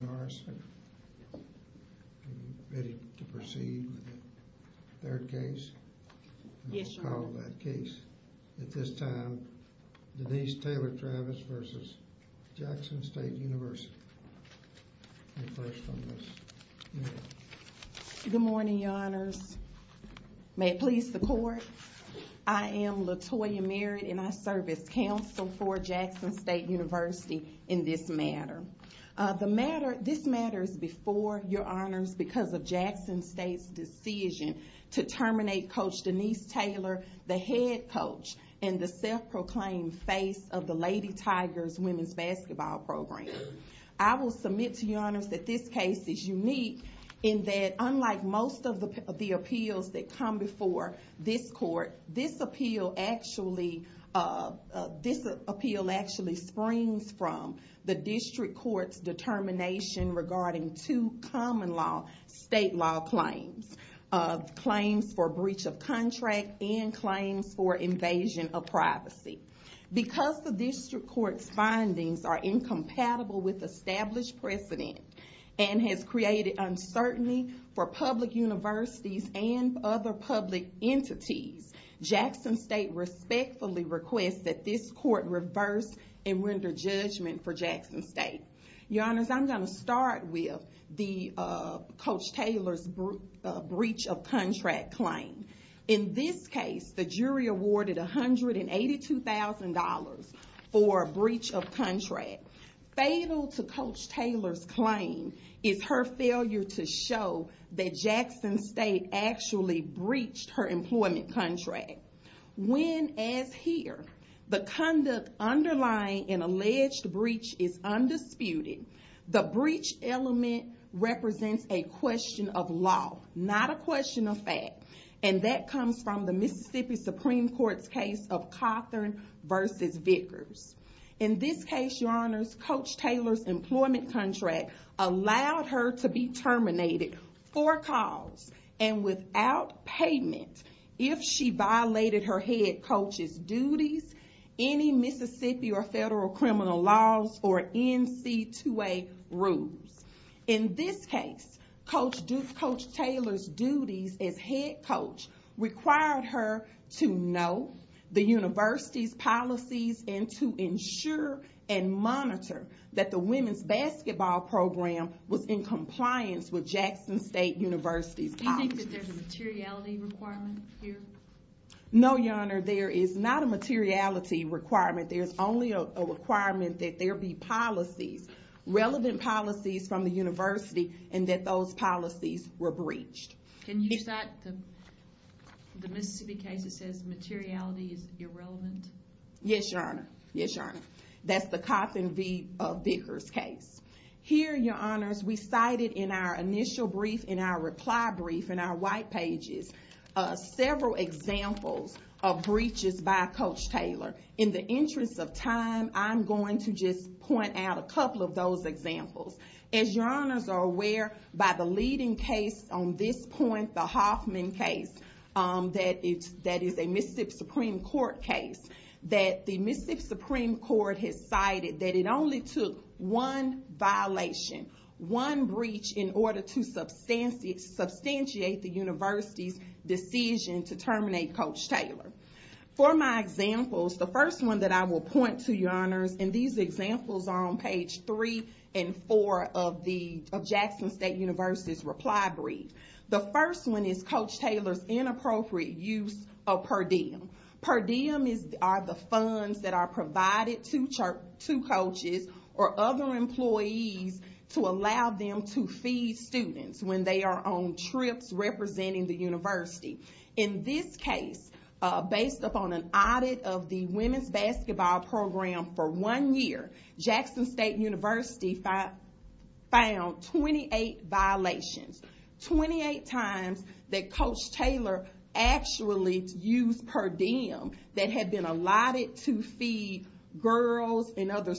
Good morning, your honors. May it please the court, I am Latoya Merritt and I serve as counsel for Jackson State University in this matter. This matter is before your honors because of Jackson State's decision to terminate coach Denise Taylor, the head coach and the self-proclaimed face of the Lady Tigers women's basketball program. I will submit to your honors that this case is unique in that unlike most of the appeals that come before this court, this appeal actually springs from the district court's determination regarding two common law state law claims. Claims for breach of contract and claims for invasion of privacy. Because the district court's findings are incompatible with established precedent and has created uncertainty for public universities and other public entities, Jackson State respectfully requests that this court reverse and render judgment for Jackson State. Your honors, I'm going to start with Coach Taylor's breach of contract claim. In this case, the jury awarded $182,000 for breach of contract. Fatal to Coach Taylor's claim is her failure to show that Jackson State actually breached her employment contract. When, as here, the conduct underlying an alleged breach is undisputed, the breach element represents a question of law, not a question of fact. And that comes from the Mississippi Supreme Court's case of Cawthorn versus Vickers. In this case, your honors, Coach Taylor's employment contract allowed her to be terminated for cause and without payment if she violated her head coach's duties, any Mississippi or federal criminal laws, or NC2A rules. In this case, Coach Taylor's duties as head coach required her to know the university's policies and to ensure and monitor that the women's basketball program was in compliance with Jackson State University's policies. Do you think that there's a materiality requirement here? No, your honor. There is not a materiality requirement. There's only a requirement that there be policies, relevant policies from the university, and that those policies were breached. Can you cite the Mississippi case that says materiality is irrelevant? Yes, your honor. Yes, your honor. That's the Cawthorn v. Vickers case. Here, your honors, we cited in our initial brief, in our reply brief, in our white pages, several examples of breaches by Coach Taylor. In the interest of time, I'm going to just point out a couple of those examples. As your honors are aware, by the leading case on this point, the Hoffman case, that is a Mississippi Supreme Court case, that the Mississippi Supreme Court has cited that it only took one violation, one breach, in order to substantiate the university's decision to terminate Coach Taylor. For my examples, the first one that I will point to, your honors, and these examples are on page three and four of the Jackson State University's reply brief. The first one is Coach Taylor's inappropriate use of per diem. Per diem are the funds that are provided to coaches or other employees to allow them to feed students when they are on trips representing the university. In this case, based upon an audit of the women's basketball program for one year, Jackson State University found 28 violations. 28 times that Coach Taylor actually used per diem that had been allotted to feed girls and other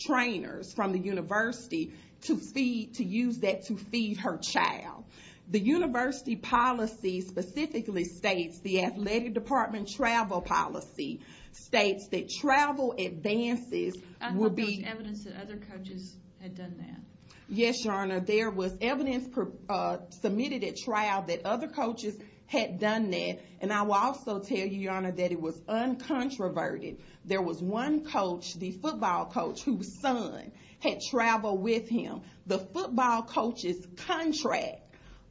trainers from the university to use that to feed her child. The university policy specifically states, the athletic department travel policy, states that travel advances would be... I thought there was evidence that other coaches had done that. Yes, your honor. There was evidence submitted at trial that other coaches had done that, and I will also tell you, your honor, that it was uncontroverted. There was one coach, the football coach, whose son had traveled with him. The football coach's contract,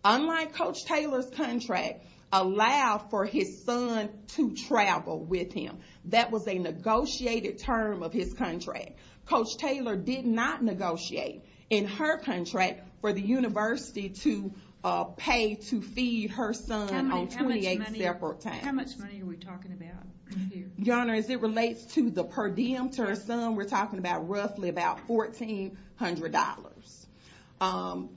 unlike Coach Taylor's contract, allowed for his son to travel with him. That was a negotiated term of his contract. Coach Taylor did not negotiate in her contract for the university to pay to feed her son on 28 separate times. How much money are we talking about here? Your honor, as it relates to the per diem term sum, we're talking about roughly about $1,400.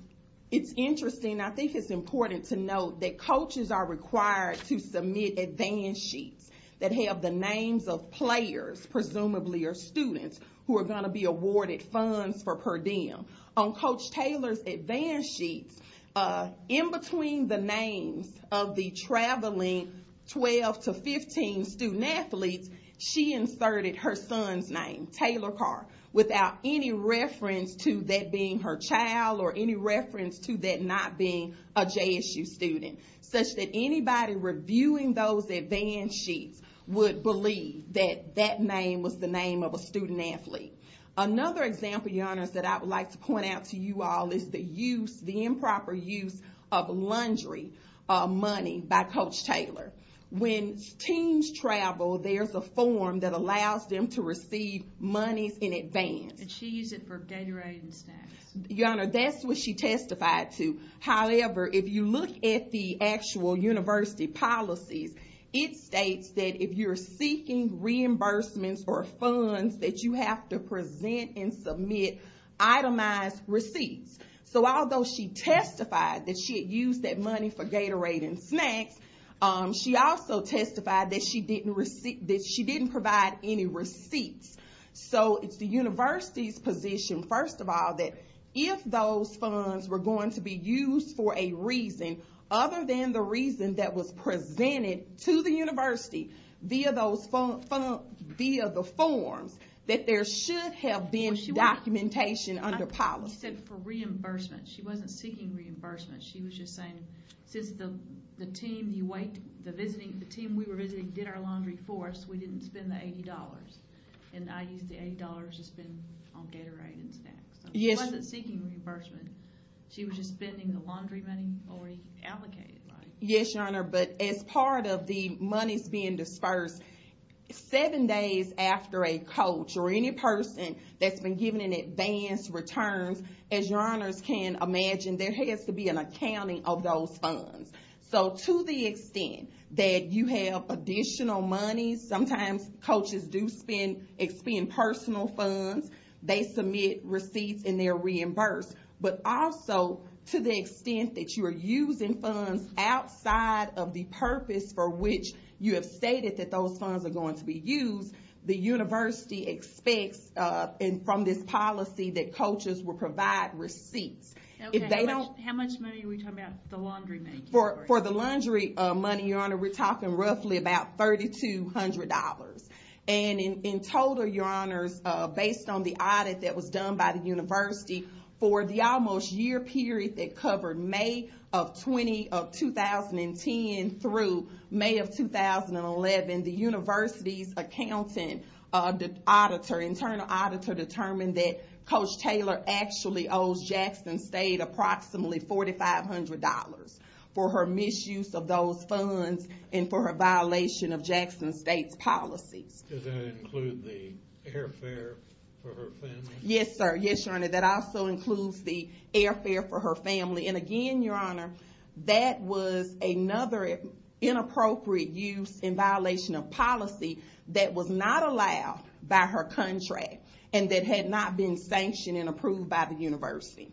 It's interesting, I think it's important to note that coaches are required to submit advance sheets that have the names of players, presumably your students, who are going to be awarded funds for per diem. On Coach Taylor's advance sheets, in between the names of the traveling 12 to 15 student-athletes, she inserted her son's name, Taylor Carr, without any reference to that being her child or any reference to that not being a JSU student, such that anybody reviewing those advance sheets would believe that that name was the name of a student-athlete. Another example, your honor, that I would like to point out to you all is the improper use of laundry money by Coach Taylor. When teams travel, there's a form that allows them to receive monies in advance. And she used it for Gatorade and snacks. Your honor, that's what she testified to. However, if you look at the actual university policies, it states that if you're seeking reimbursements or funds that you have to present and submit, itemize receipts. So although she testified that she had used that money for Gatorade and snacks, she also testified that she didn't provide any receipts. So it's the university's position, first of all, that if those funds were going to be used for a reason other than the reason that was presented to the university via the forms, that there should have been documentation under policy. She said for reimbursement. She wasn't seeking reimbursement. She was just saying, since the team we were visiting did our laundry for us, we didn't spend the $80. And I used the $80 to spend on Gatorade and snacks. She wasn't seeking reimbursement. She was just spending the laundry money already allocated. Yes, your honor. But as part of the monies being dispersed, seven days after a coach or any person that's been given in advance returns, as your honors can imagine, there has to be an accounting of those funds. So to the extent that you have additional monies, sometimes coaches do spend personal funds. They submit receipts and they're reimbursed. But also to the extent that you are using funds outside of the purpose for which you have stated that those funds are going to be used, the university expects from this policy that coaches will provide receipts. How much money are we talking about the laundry money? For the laundry money, your honor, we're talking roughly about $3,200. And in total, your honors, based on the audit that was done by the university, for the almost year period that covered May of 2010 through May of 2011, the university's internal auditor determined that Coach Taylor actually owes Jackson State approximately $4,500 for her misuse of those funds and for her violation of Jackson State's policies. Does that include the airfare for her family? Yes, sir. Yes, your honor. That also includes the airfare for her family. And again, your honor, that was another inappropriate use in violation of policy that was not allowed by her contract and that had not been sanctioned and approved by the university.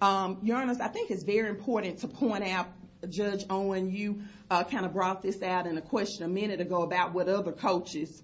Your honors, I think it's very important to point out, Judge Owen, you kind of brought this out in a question a minute ago about what other coaches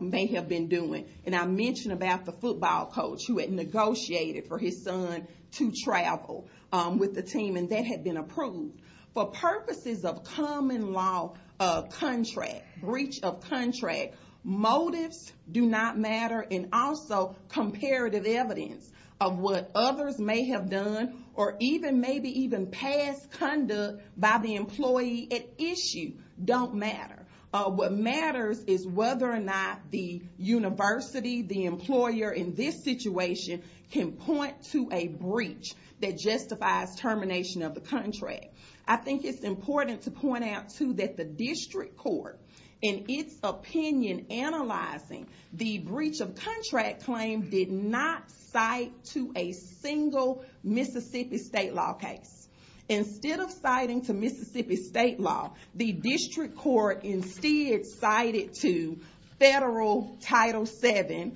may have been doing. And I mentioned about the football coach who had negotiated for his son to travel with the team and that had been approved. For purposes of common law of contract, breach of contract, motives do not matter and also comparative evidence of what others may have done or even maybe even past conduct by the employee at issue don't matter. What matters is whether or not the university, the employer in this situation, can point to a breach that justifies termination of the contract. I think it's important to point out, too, that the district court, in its opinion, analyzing the breach of contract claim did not cite to a single Mississippi state law case. Instead of citing to Mississippi state law, the district court instead cited to federal Title VII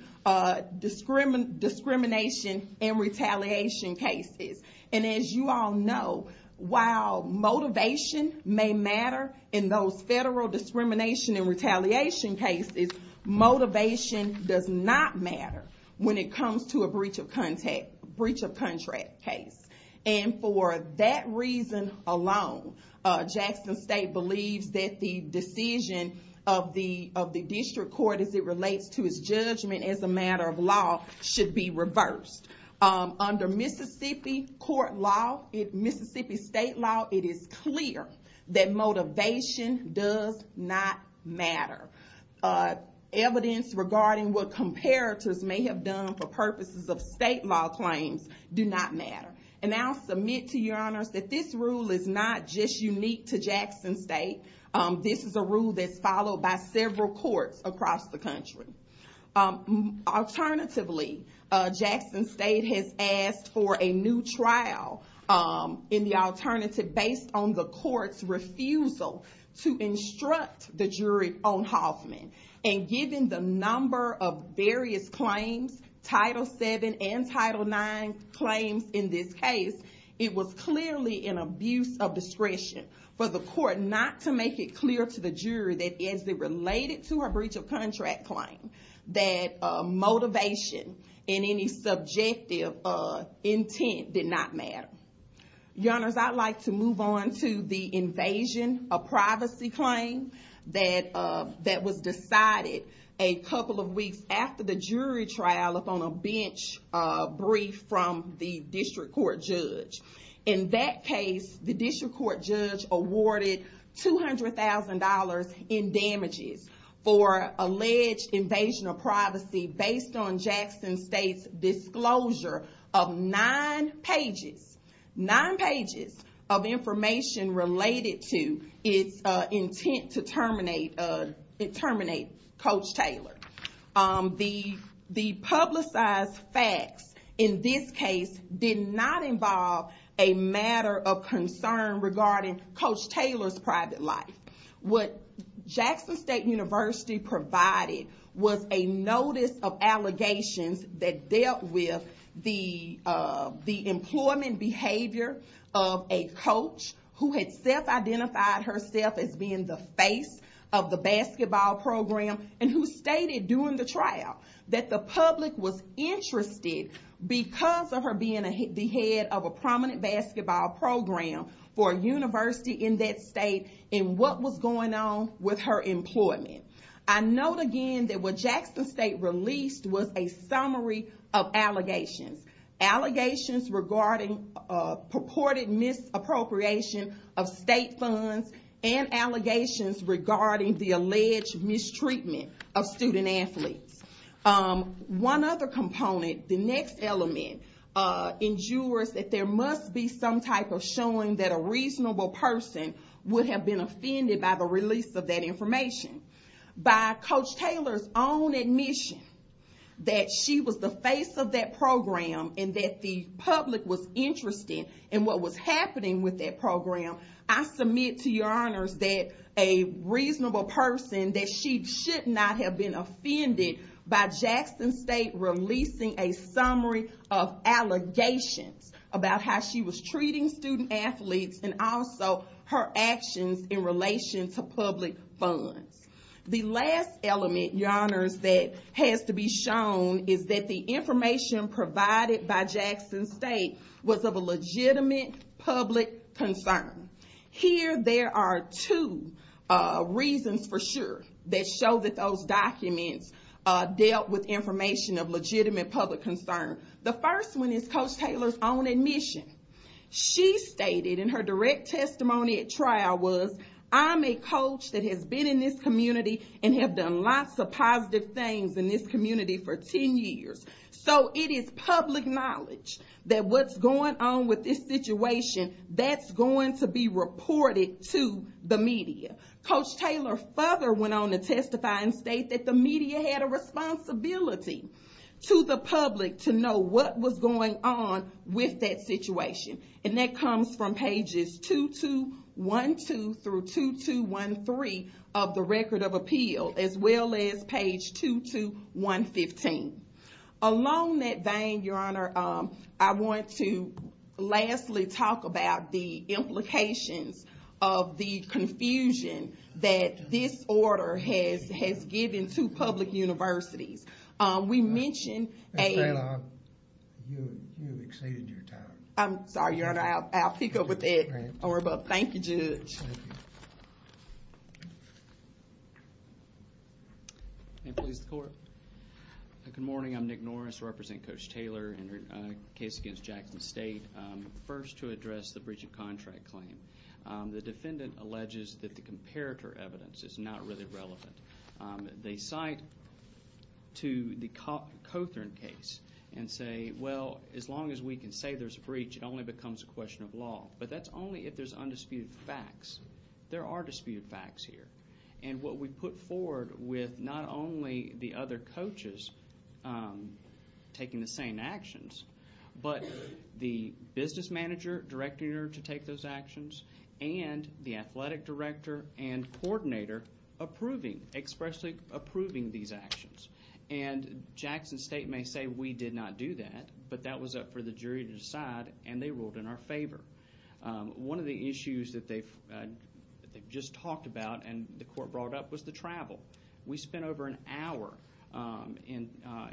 discrimination and retaliation cases. And as you all know, while motivation may matter in those federal discrimination and retaliation cases, motivation does not matter when it comes to a breach of contract case. And for that reason alone, Jackson State believes that the decision of the district court, as it relates to its judgment as a matter of law, should be reversed. Under Mississippi court law, Mississippi state law, it is clear that motivation does not matter. Evidence regarding what comparators may have done for purposes of state law claims do not matter. And I'll submit to your honors that this rule is not just unique to Jackson State. This is a rule that's followed by several courts across the country. Alternatively, Jackson State has asked for a new trial. In the alternative, based on the court's refusal to instruct the jury on Hoffman, and given the number of various claims, Title VII and Title IX claims in this case, it was clearly an abuse of discretion for the court not to make it clear to the jury that, as it related to her breach of contract claim, that motivation and any subjective intent did not matter. Your honors, I'd like to move on to the invasion of privacy claim that was decided a couple of weeks after the jury trial upon a bench brief from the district court judge. In that case, the district court judge awarded $200,000 in damages for alleged invasion of privacy based on Jackson State's disclosure of nine pages, nine pages of information related to its intent to terminate Coach Taylor. The publicized facts in this case did not involve a matter of concern regarding Coach Taylor's private life. What Jackson State University provided was a notice of allegations that dealt with the employment behavior of a coach who had self-identified herself as being the face of the basketball program and who stated during the trial that the public was interested, because of her being the head of a prominent basketball program for a university in that state, in what was going on with her employment. I note again that what Jackson State released was a summary of allegations. Allegations regarding purported misappropriation of state funds and allegations regarding the alleged mistreatment of student athletes. One other component, the next element, endures that there must be some type of showing that a reasonable person would have been offended by the release of that information. By Coach Taylor's own admission that she was the face of that program and that the public was interested in what was happening with that program, I submit to your honors that a reasonable person, that she should not have been offended by Jackson State releasing a summary of allegations about how she was treating student athletes and also her actions in relation to public funds. The last element, your honors, that has to be shown is that the information provided by Jackson State was of a legitimate public concern. Here there are two reasons for sure that show that those documents dealt with information of legitimate public concern. The first one is Coach Taylor's own admission. She stated in her direct testimony at trial was, I'm a coach that has been in this community and have done lots of positive things in this community for 10 years. So it is public knowledge that what's going on with this situation, that's going to be reported to the media. Coach Taylor further went on to testify and state that the media had a responsibility to the public to know what was going on with that situation. And that comes from pages 2212 through 2213 of the Record of Appeal as well as page 2215. Along that vein, your honor, I want to lastly talk about the implications of the confusion that this order has given to public universities. We mentioned a... Your honor, you have exceeded your time. I'm sorry, your honor, I'll pick up with that. Thank you, Judge. May it please the court. Good morning, I'm Nick Norris, I represent Coach Taylor in her case against Jackson State. First to address the breach of contract claim. The defendant alleges that the comparator evidence is not really relevant. They cite to the Cothern case and say, well, as long as we can say there's a breach, it only becomes a question of law. But that's only if there's undisputed facts. There are disputed facts here. And what we put forward with not only the other coaches taking the same actions, but the business manager directing her to take those actions, and the athletic director and coordinator approving, expressly approving these actions. And Jackson State may say we did not do that, but that was up for the jury to decide, and they ruled in our favor. One of the issues that they've just talked about and the court brought up was the travel. We spent over an hour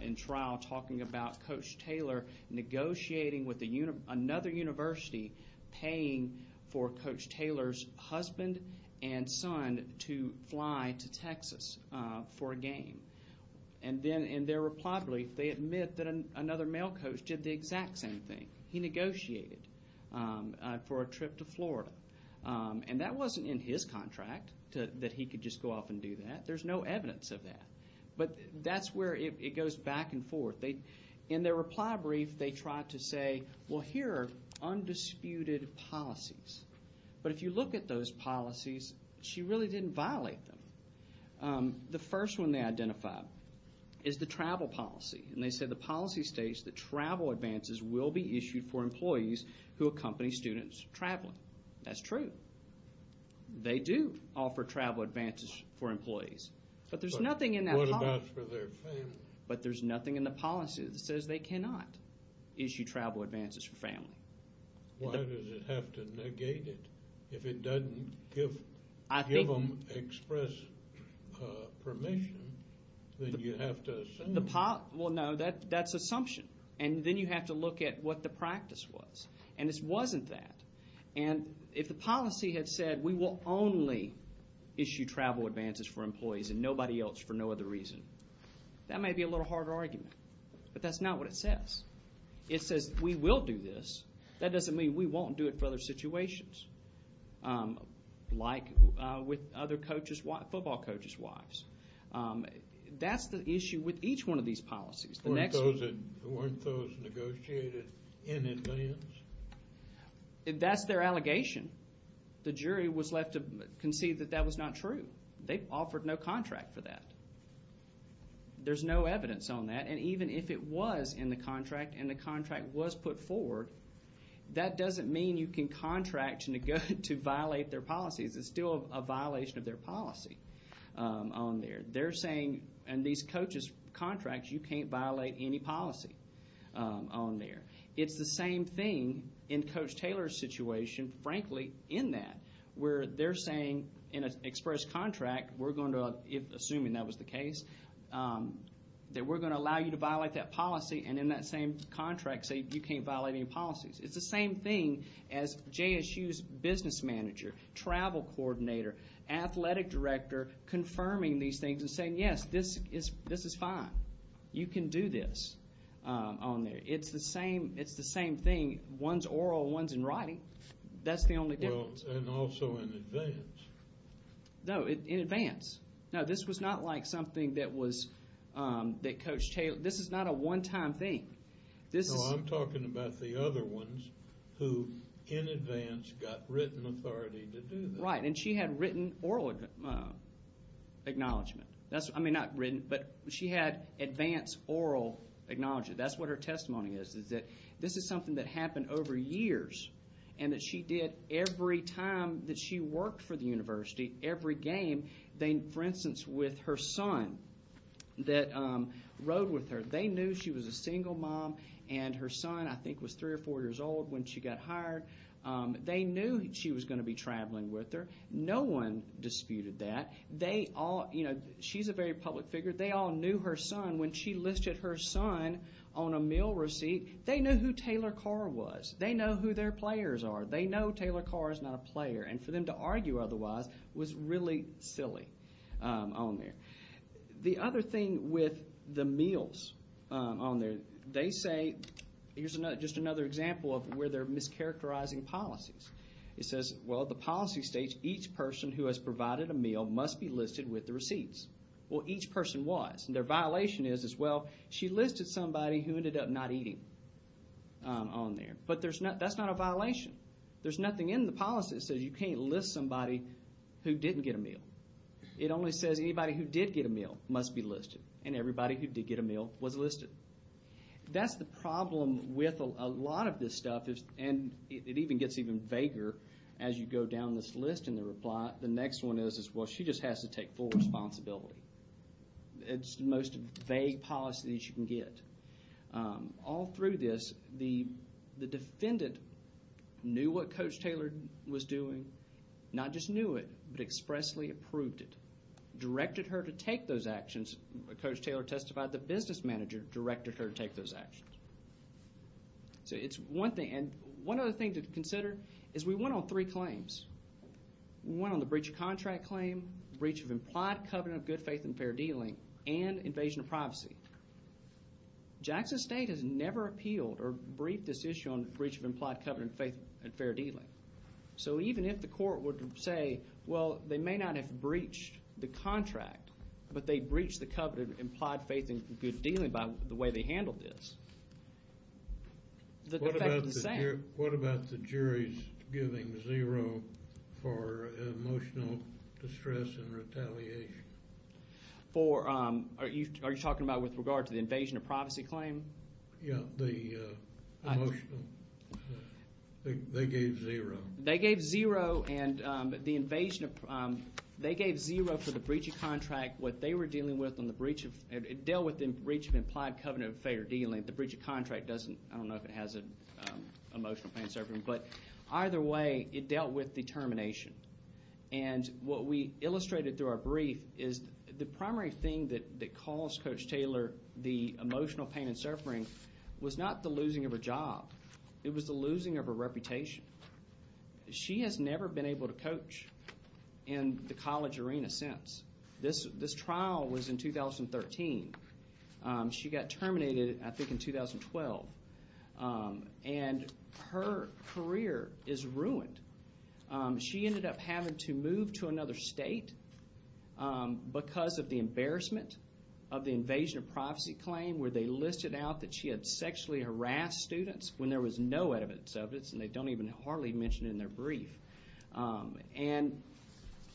in trial talking about Coach Taylor negotiating with another university, paying for Coach Taylor's husband and son to fly to Texas for a game. And then in their reply brief, they admit that another male coach did the exact same thing. He negotiated for a trip to Florida. And that wasn't in his contract that he could just go off and do that. There's no evidence of that. But that's where it goes back and forth. In their reply brief, they tried to say, well, here are undisputed policies. But if you look at those policies, she really didn't violate them. The first one they identified is the travel policy, and they said the policy states that travel advances will be issued for employees who accompany students traveling. That's true. They do offer travel advances for employees. But there's nothing in that policy. What about for their families? But there's nothing in the policy that says they cannot issue travel advances for family. Why does it have to negate it? If it doesn't give them express permission, then you have to assume. Well, no, that's assumption. And then you have to look at what the practice was. And it wasn't that. And if the policy had said we will only issue travel advances for employees and nobody else for no other reason, that may be a little harder argument. But that's not what it says. It says we will do this. That doesn't mean we won't do it for other situations, like with other coaches, football coaches' wives. That's the issue with each one of these policies. Weren't those negotiated in advance? That's their allegation. The jury was left to concede that that was not true. They offered no contract for that. There's no evidence on that. And even if it was in the contract and the contract was put forward, that doesn't mean you can contract to violate their policies. It's still a violation of their policy on there. They're saying in these coaches' contracts you can't violate any policy on there. It's the same thing in Coach Taylor's situation, frankly, in that, where they're saying in an express contract, assuming that was the case, that we're going to allow you to violate that policy and in that same contract say you can't violate any policies. It's the same thing as JSU's business manager, travel coordinator, athletic director confirming these things and saying, yes, this is fine. You can do this on there. It's the same thing. One's oral, one's in writing. That's the only difference. And also in advance. No, in advance. No, this was not like something that Coach Taylor – this is not a one-time thing. No, I'm talking about the other ones who in advance got written authority to do this. Right, and she had written oral acknowledgment. I mean, not written, but she had advance oral acknowledgment. That's what her testimony is, is that this is something that happened over years and that she did every time that she worked for the university, every game. For instance, with her son that rode with her, they knew she was a single mom and her son, I think, was three or four years old when she got hired. They knew she was going to be traveling with her. No one disputed that. She's a very public figure. They all knew her son. When she listed her son on a meal receipt, they knew who Taylor Carr was. They know Taylor Carr is not a player. For them to argue otherwise was really silly on there. The other thing with the meals on there, they say – here's just another example of where they're mischaracterizing policies. It says, well, the policy states each person who has provided a meal must be listed with the receipts. Well, each person was, and their violation is, well, she listed somebody who ended up not eating on there. But that's not a violation. There's nothing in the policy that says you can't list somebody who didn't get a meal. It only says anybody who did get a meal must be listed, and everybody who did get a meal was listed. That's the problem with a lot of this stuff, and it even gets even vaguer as you go down this list in the reply. The next one is, well, she just has to take full responsibility. It's the most vague policy that you can get. All through this, the defendant knew what Coach Taylor was doing, not just knew it, but expressly approved it, directed her to take those actions. Coach Taylor testified the business manager directed her to take those actions. So it's one thing, and one other thing to consider is we went on three claims. We went on the breach of contract claim, breach of implied covenant of good faith and fair dealing, and invasion of privacy. Jackson State has never appealed or briefed this issue on breach of implied covenant of faith and fair dealing. So even if the court would say, well, they may not have breached the contract, but they breached the covenant of implied faith and good dealing by the way they handled this, the effect is the same. What about the jury's giving zero for emotional distress and retaliation? For, are you talking about with regard to the invasion of privacy claim? Yeah, the emotional, they gave zero. They gave zero and the invasion of, they gave zero for the breach of contract, what they were dealing with on the breach of, it dealt with the breach of implied covenant of fair dealing. The breach of contract doesn't, I don't know if it has an emotional pain serving, but either way, it dealt with determination. And what we illustrated through our brief is the primary thing that caused Coach Taylor the emotional pain and suffering was not the losing of her job. It was the losing of her reputation. She has never been able to coach in the college arena since. This trial was in 2013. She got terminated, I think, in 2012. And her career is ruined. She ended up having to move to another state because of the embarrassment of the invasion of privacy claim where they listed out that she had sexually harassed students when there was no evidence of it and they don't even hardly mention it in their brief. And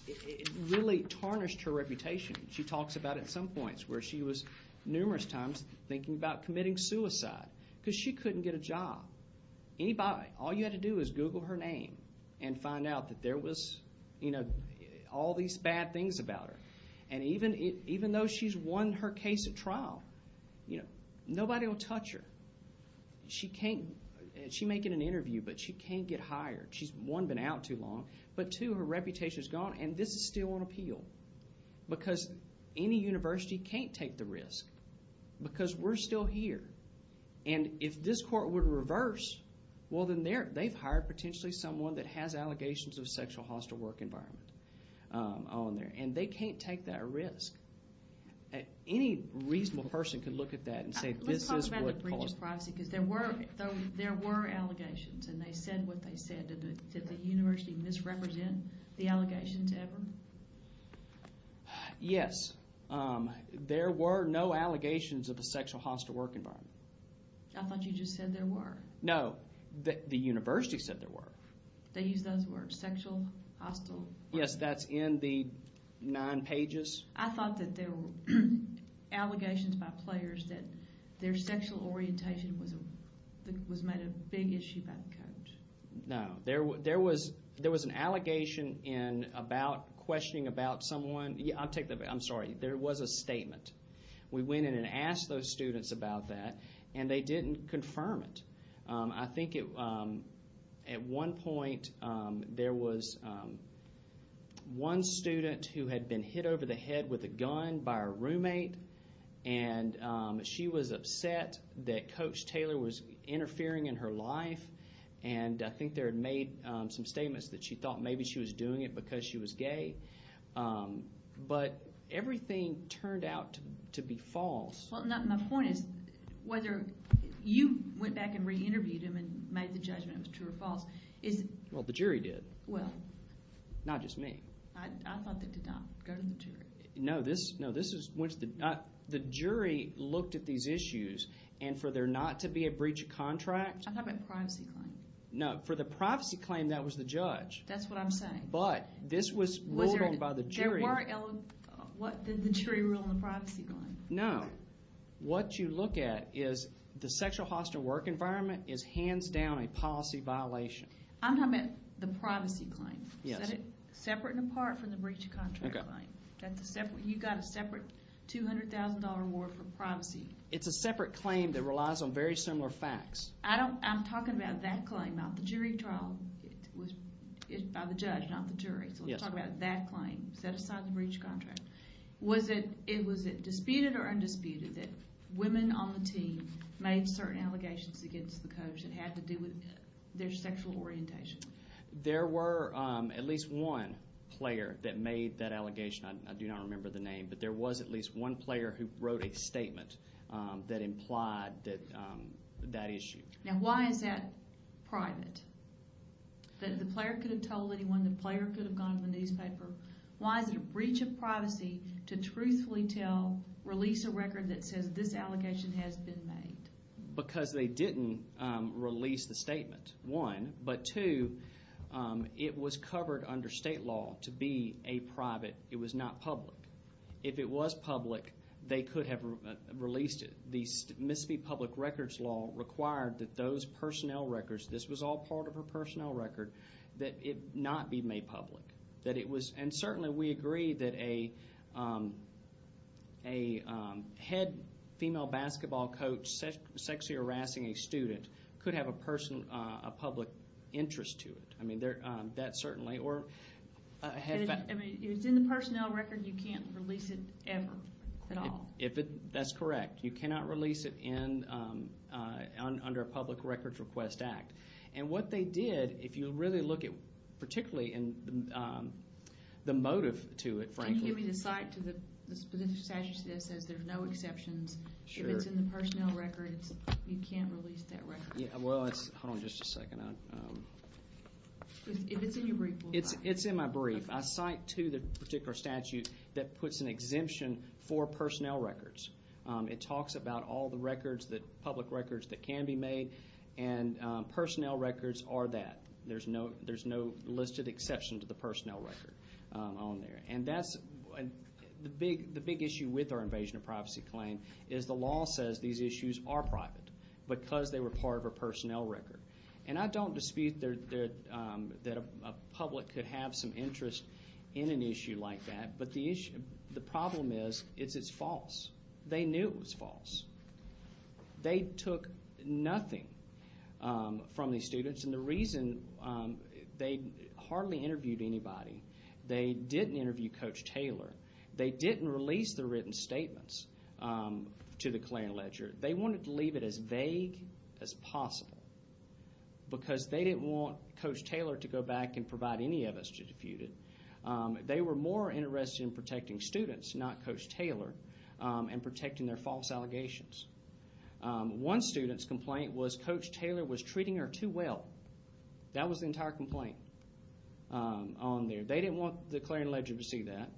it really tarnished her reputation. She talks about at some points where she was numerous times thinking about committing suicide because she couldn't get a job. All you had to do was Google her name and find out that there was all these bad things about her. And even though she's won her case at trial, nobody will touch her. She's making an interview, but she can't get hired. One, she's been out too long. But two, her reputation is gone, and this is still on appeal because any university can't take the risk because we're still here. And if this court would reverse, well, then they've hired potentially someone that has allegations of sexual hostile work environment on there, and they can't take that risk. Any reasonable person could look at that and say this is what caused it. Let's talk about the breach of privacy because there were allegations, and they said what they said. Did the university misrepresent the allegations ever? Yes. There were no allegations of a sexual hostile work environment. I thought you just said there were. No. The university said there were. They used those words, sexual hostile. Yes, that's in the nine pages. I thought that there were allegations by players that their sexual orientation was made a big issue by the court. No. There was an allegation in about questioning about someone. I'm sorry. There was a statement. We went in and asked those students about that, and they didn't confirm it. I think at one point there was one student who had been hit over the head with a gun by her roommate, and she was upset that Coach Taylor was interfering in her life, and I think they had made some statements that she thought maybe she was doing it because she was gay, but everything turned out to be false. Well, my point is whether you went back and re-interviewed him and made the judgment it was true or false. Well, the jury did. Well. I thought that did not go to the jury. No. The jury looked at these issues, and for there not to be a breach of contract. I'm talking about privacy claim. No. For the privacy claim, that was the judge. That's what I'm saying. But this was ruled on by the jury. What did the jury rule on the privacy claim? No. What you look at is the sexual hostile work environment is hands down a policy violation. I'm talking about the privacy claim. Yes. Separate and apart from the breach of contract claim. Okay. You got a separate $200,000 reward for privacy. It's a separate claim that relies on very similar facts. I'm talking about that claim, not the jury trial. It was by the judge, not the jury. Yes. So we're talking about that claim set aside the breach of contract. Was it disputed or undisputed that women on the team made certain allegations against the coach that had to do with their sexual orientation? There were at least one player that made that allegation. I do not remember the name, but there was at least one player who wrote a statement that implied that issue. Now, why is that private? The player could have told anyone. The player could have gone to the newspaper. Why is it a breach of privacy to truthfully tell, release a record that says this allegation has been made? Because they didn't release the statement, one. But, two, it was covered under state law to be a private. It was not public. If it was public, they could have released it. The Mississippi Public Records Law required that those personnel records, this was all part of her personnel record, that it not be made public. And certainly we agree that a head female basketball coach sexually harassing a student could have a public interest to it. I mean, that certainly, or... If it's in the personnel record, you can't release it ever at all. That's correct. You cannot release it under a Public Records Request Act. And what they did, if you really look at particularly the motive to it, frankly... Can you give me the cite to the statute that says there's no exceptions? If it's in the personnel record, you can't release that record? Well, hold on just a second. If it's in your brief, we'll find out. It's in my brief. I cite to the particular statute that puts an exemption for personnel records. It talks about all the public records that can be made and personnel records are that. There's no listed exception to the personnel record on there. And that's the big issue with our invasion of privacy claim is the law says these issues are private because they were part of her personnel record. And I don't dispute that a public could have some interest in an issue like that, but the problem is it's false. They knew it was false. They took nothing from these students, and the reason they hardly interviewed anybody. They didn't interview Coach Taylor. They didn't release the written statements to the claim ledger. They wanted to leave it as vague as possible because they didn't want Coach Taylor to go back and provide any of us to dispute it. They were more interested in protecting students, not Coach Taylor, and protecting their false allegations. One student's complaint was Coach Taylor was treating her too well. That was the entire complaint on there. They didn't want the claim ledger to see that.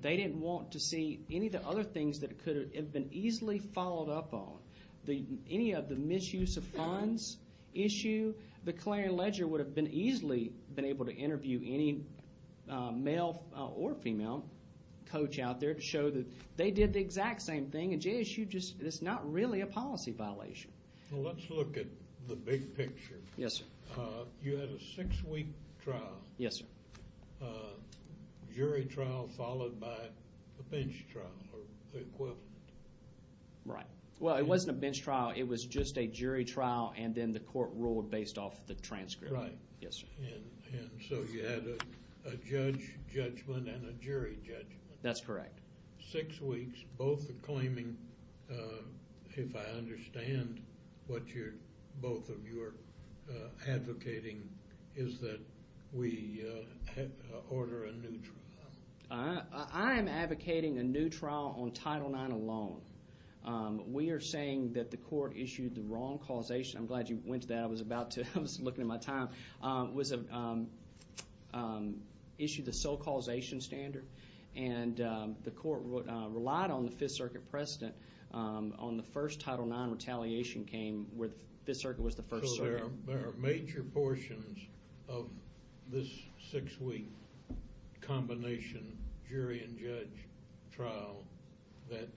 They didn't want to see any of the other things that could have been easily followed up on. Any of the misuse of funds issue, the claim ledger would have been easily been able to interview any male or female coach out there to show that they did the exact same thing, and JSU just is not really a policy violation. Well, let's look at the big picture. Yes, sir. You had a six-week trial. Yes, sir. Jury trial followed by a bench trial or the equivalent. Right. Well, it wasn't a bench trial. It was just a jury trial, and then the court ruled based off the transcript. Right. Yes, sir. And so you had a judge judgment and a jury judgment. That's correct. Six weeks. Both are claiming, if I understand what both of you are advocating, is that we order a new trial. I am advocating a new trial on Title IX alone. We are saying that the court issued the wrong causation. I'm glad you went to that. I was about to. I was looking at my time. It was issued the sole causation standard, and the court relied on the Fifth Circuit precedent on the first Title IX retaliation came where the Fifth Circuit was the first circuit. So there are major portions of this six-week combination jury and judge trial that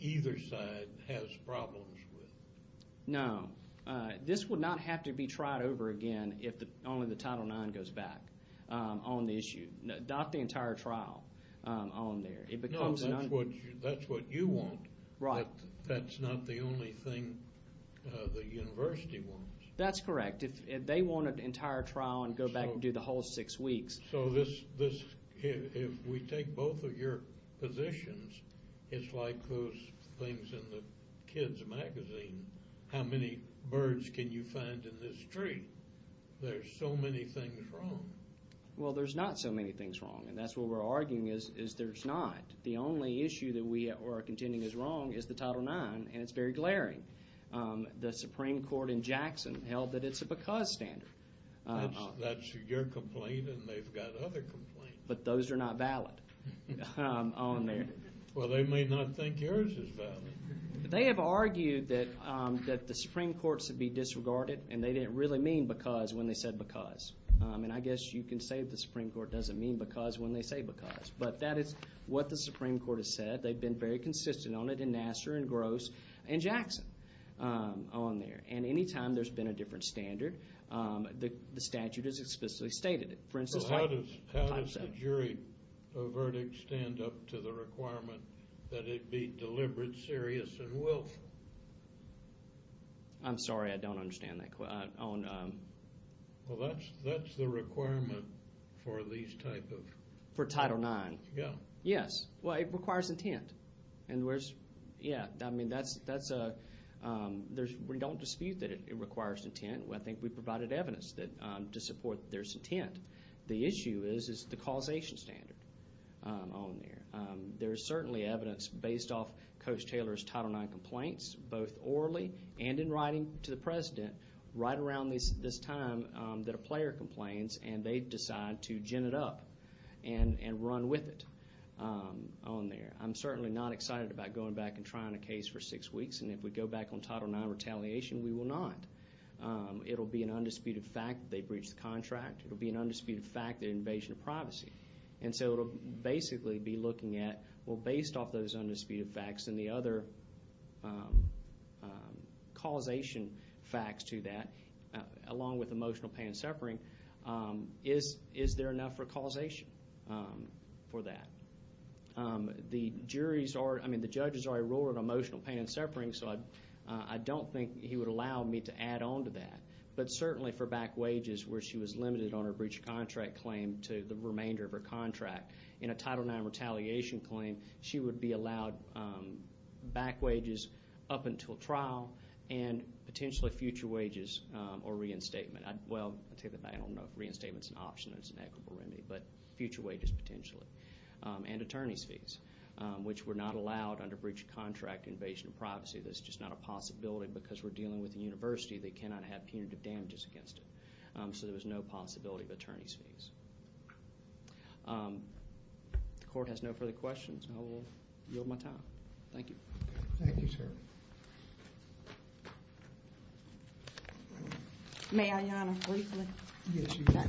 either side has problems with. No. This would not have to be tried over again if only the Title IX goes back on the issue, not the entire trial on there. No, that's what you want. Right. That's not the only thing the university wants. That's correct. If they want an entire trial and go back and do the whole six weeks. So if we take both of your positions, it's like those things in the kids' magazine. How many birds can you find in this tree? There's so many things wrong. Well, there's not so many things wrong, and that's what we're arguing is there's not. The only issue that we are contending is wrong is the Title IX, and it's very glaring. The Supreme Court in Jackson held that it's a because standard. That's your complaint, and they've got other complaints. But those are not valid on there. Well, they may not think yours is valid. They have argued that the Supreme Court should be disregarded, and they didn't really mean because when they said because. And I guess you can say the Supreme Court doesn't mean because when they say because. But that is what the Supreme Court has said. They've been very consistent on it in Nassar and Gross and Jackson on there. And any time there's been a different standard, the statute has explicitly stated it. So how does the jury verdict stand up to the requirement that it be deliberate, serious, and willful? I'm sorry, I don't understand that. Well, that's the requirement for these type of— For Title IX. Yeah. Yes. Well, it requires intent. Yeah, I mean, that's a—we don't dispute that it requires intent. I think we provided evidence to support there's intent. The issue is the causation standard on there. There's certainly evidence based off Coach Taylor's Title IX complaints, both orally and in writing to the President right around this time that a player complains, and they decide to gin it up and run with it on there. I'm certainly not excited about going back and trying a case for six weeks, and if we go back on Title IX retaliation, we will not. It will be an undisputed fact that they breached the contract. It will be an undisputed fact that invasion of privacy. And so it will basically be looking at, well, based off those undisputed facts and the other causation facts to that, along with emotional pain and suffering, is there enough for causation for that? The juries are—I mean, the judges are a ruler of emotional pain and suffering, so I don't think he would allow me to add on to that. But certainly for back wages where she was limited on her breach of contract claim to the remainder of her contract, in a Title IX retaliation claim, she would be allowed back wages up until trial and potentially future wages or reinstatement. Well, I take that back. I don't know if reinstatement is an option. But future wages potentially and attorney's fees, which were not allowed under breach of contract invasion of privacy. That's just not a possibility because we're dealing with a university. They cannot have punitive damages against it. So there was no possibility of attorney's fees. The Court has no further questions. I will yield my time. Thank you. Thank you, sir. May I honor briefly? Yes, you may.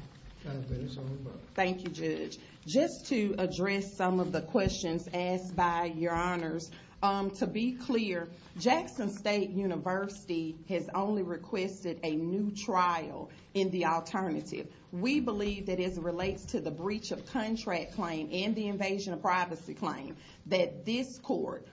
Thank you, Judge. Just to address some of the questions asked by Your Honors, to be clear, Jackson State University has only requested a new trial in the alternative. We believe that as it relates to the breach of contract claim and the invasion of privacy claim, that this Court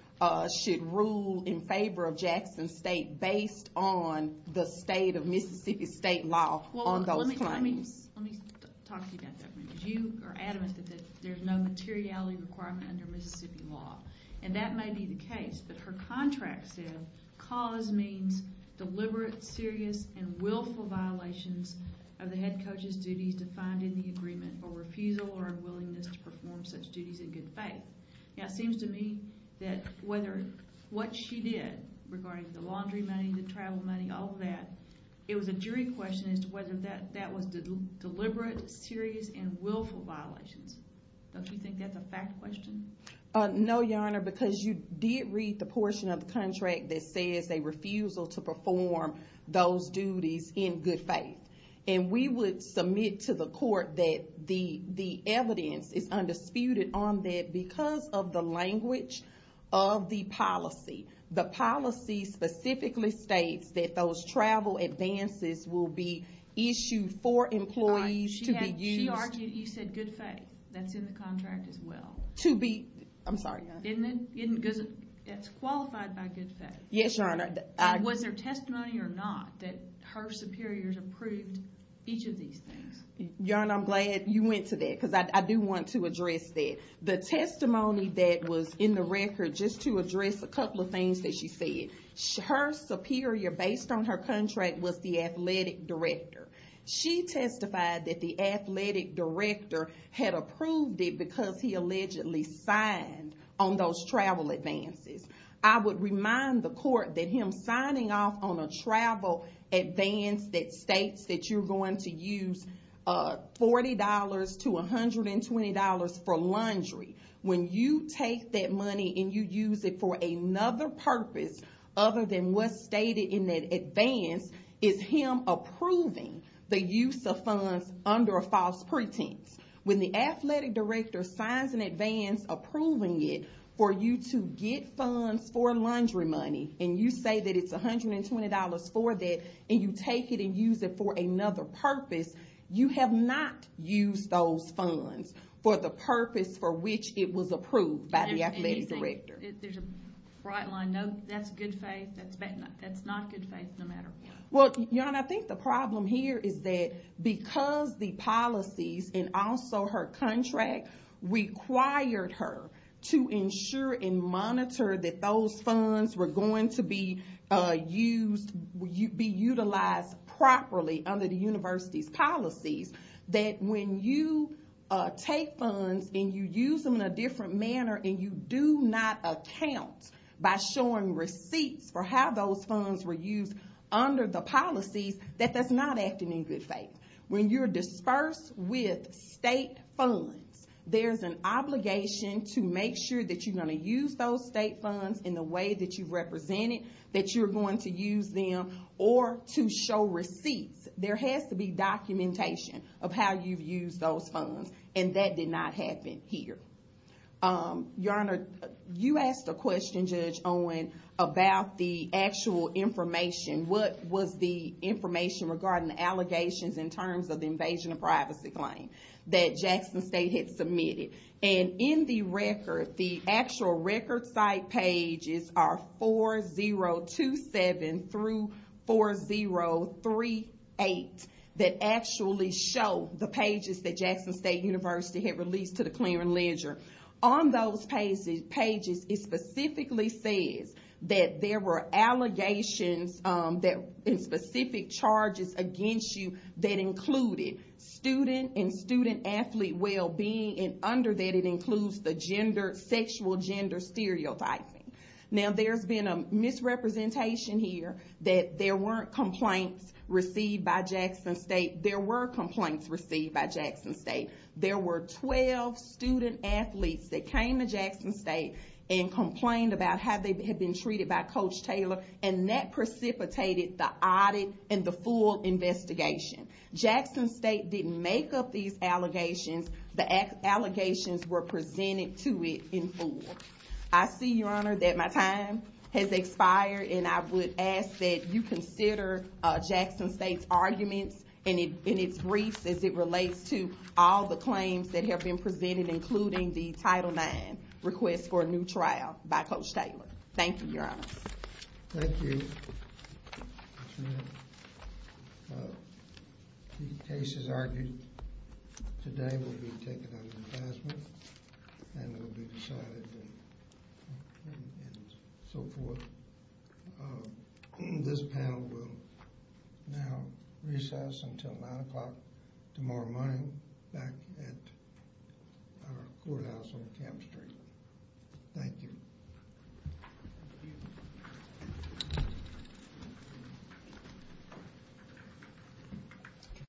should rule in favor of Jackson State based on the state of Mississippi state law on those claims. Well, let me talk to you about that for a minute. You are adamant that there's no materiality requirement under Mississippi law. And that may be the case. But her contract said, cause means deliberate, serious, and willful violations of the head coach's duties defined in the agreement or refusal or unwillingness to perform such duties in good faith. Now, it seems to me that what she did regarding the laundry money, the travel money, all of that, it was a jury question as to whether that was deliberate, serious, and willful violations. Don't you think that's a fact question? No, Your Honor, because you did read the portion of the contract that says a refusal to perform those duties in good faith. And we would submit to the Court that the evidence is undisputed on that because of the language of the policy. The policy specifically states that those travel advances will be issued for employees to be used. She argued you said good faith. That's in the contract as well. To be, I'm sorry. It's qualified by good faith. Yes, Your Honor. Was there testimony or not that her superiors approved each of these things? Your Honor, I'm glad you went to that because I do want to address that. The testimony that was in the record, just to address a couple of things that she said, her superior, based on her contract, was the athletic director. She testified that the athletic director had approved it because he allegedly signed on those travel advances. I would remind the Court that him signing off on a travel advance that states that you're going to use $40 to $120 for laundry, when you take that money and you use it for another purpose other than what's stated in that advance, is him approving the use of funds under a false pretense. When the athletic director signs an advance approving it for you to get funds for laundry money, and you say that it's $120 for that, and you take it and use it for another purpose, you have not used those funds for the purpose for which it was approved by the athletic director. There's a bright line. No, that's good faith. That's not good faith, no matter what. I think the problem here is that because the policies, and also her contract, required her to ensure and monitor that those funds were going to be utilized properly under the university's policies, that when you take funds and you use them in a different manner, and you do not account by showing receipts for how those funds were used under the policies, that that's not acting in good faith. When you're dispersed with state funds, there's an obligation to make sure that you're going to use those state funds in the way that you've represented, that you're going to use them, or to show receipts. There has to be documentation of how you've used those funds, and that did not happen here. Your Honor, you asked a question, Judge Owen, about the actual information. What was the information regarding the allegations in terms of the invasion of privacy claim that Jackson State had submitted? In the record, the actual record site pages are 4027 through 4038, that actually show the pages that Jackson State University had released to the clearing ledger. On those pages, it specifically says that there were allegations, and specific charges against you that included student and student athlete well-being, and under that it includes the sexual gender stereotyping. Now, there's been a misrepresentation here that there weren't complaints received by Jackson State. There were complaints received by Jackson State. There were 12 student athletes that came to Jackson State and complained about how they had been treated by Coach Taylor, and that precipitated the audit and the full investigation. Jackson State didn't make up these allegations. The allegations were presented to it in full. I see, Your Honor, that my time has expired, and I would ask that you consider Jackson State's arguments in its briefs, as it relates to all the claims that have been presented, including the Title IX request for a new trial by Coach Taylor. Thank you, Your Honor. Thank you. That's right. The cases argued today will be taken under advisement and will be decided and so forth. This panel will now recess until 9 o'clock tomorrow morning back at our courthouse on Camp Street. Thank you.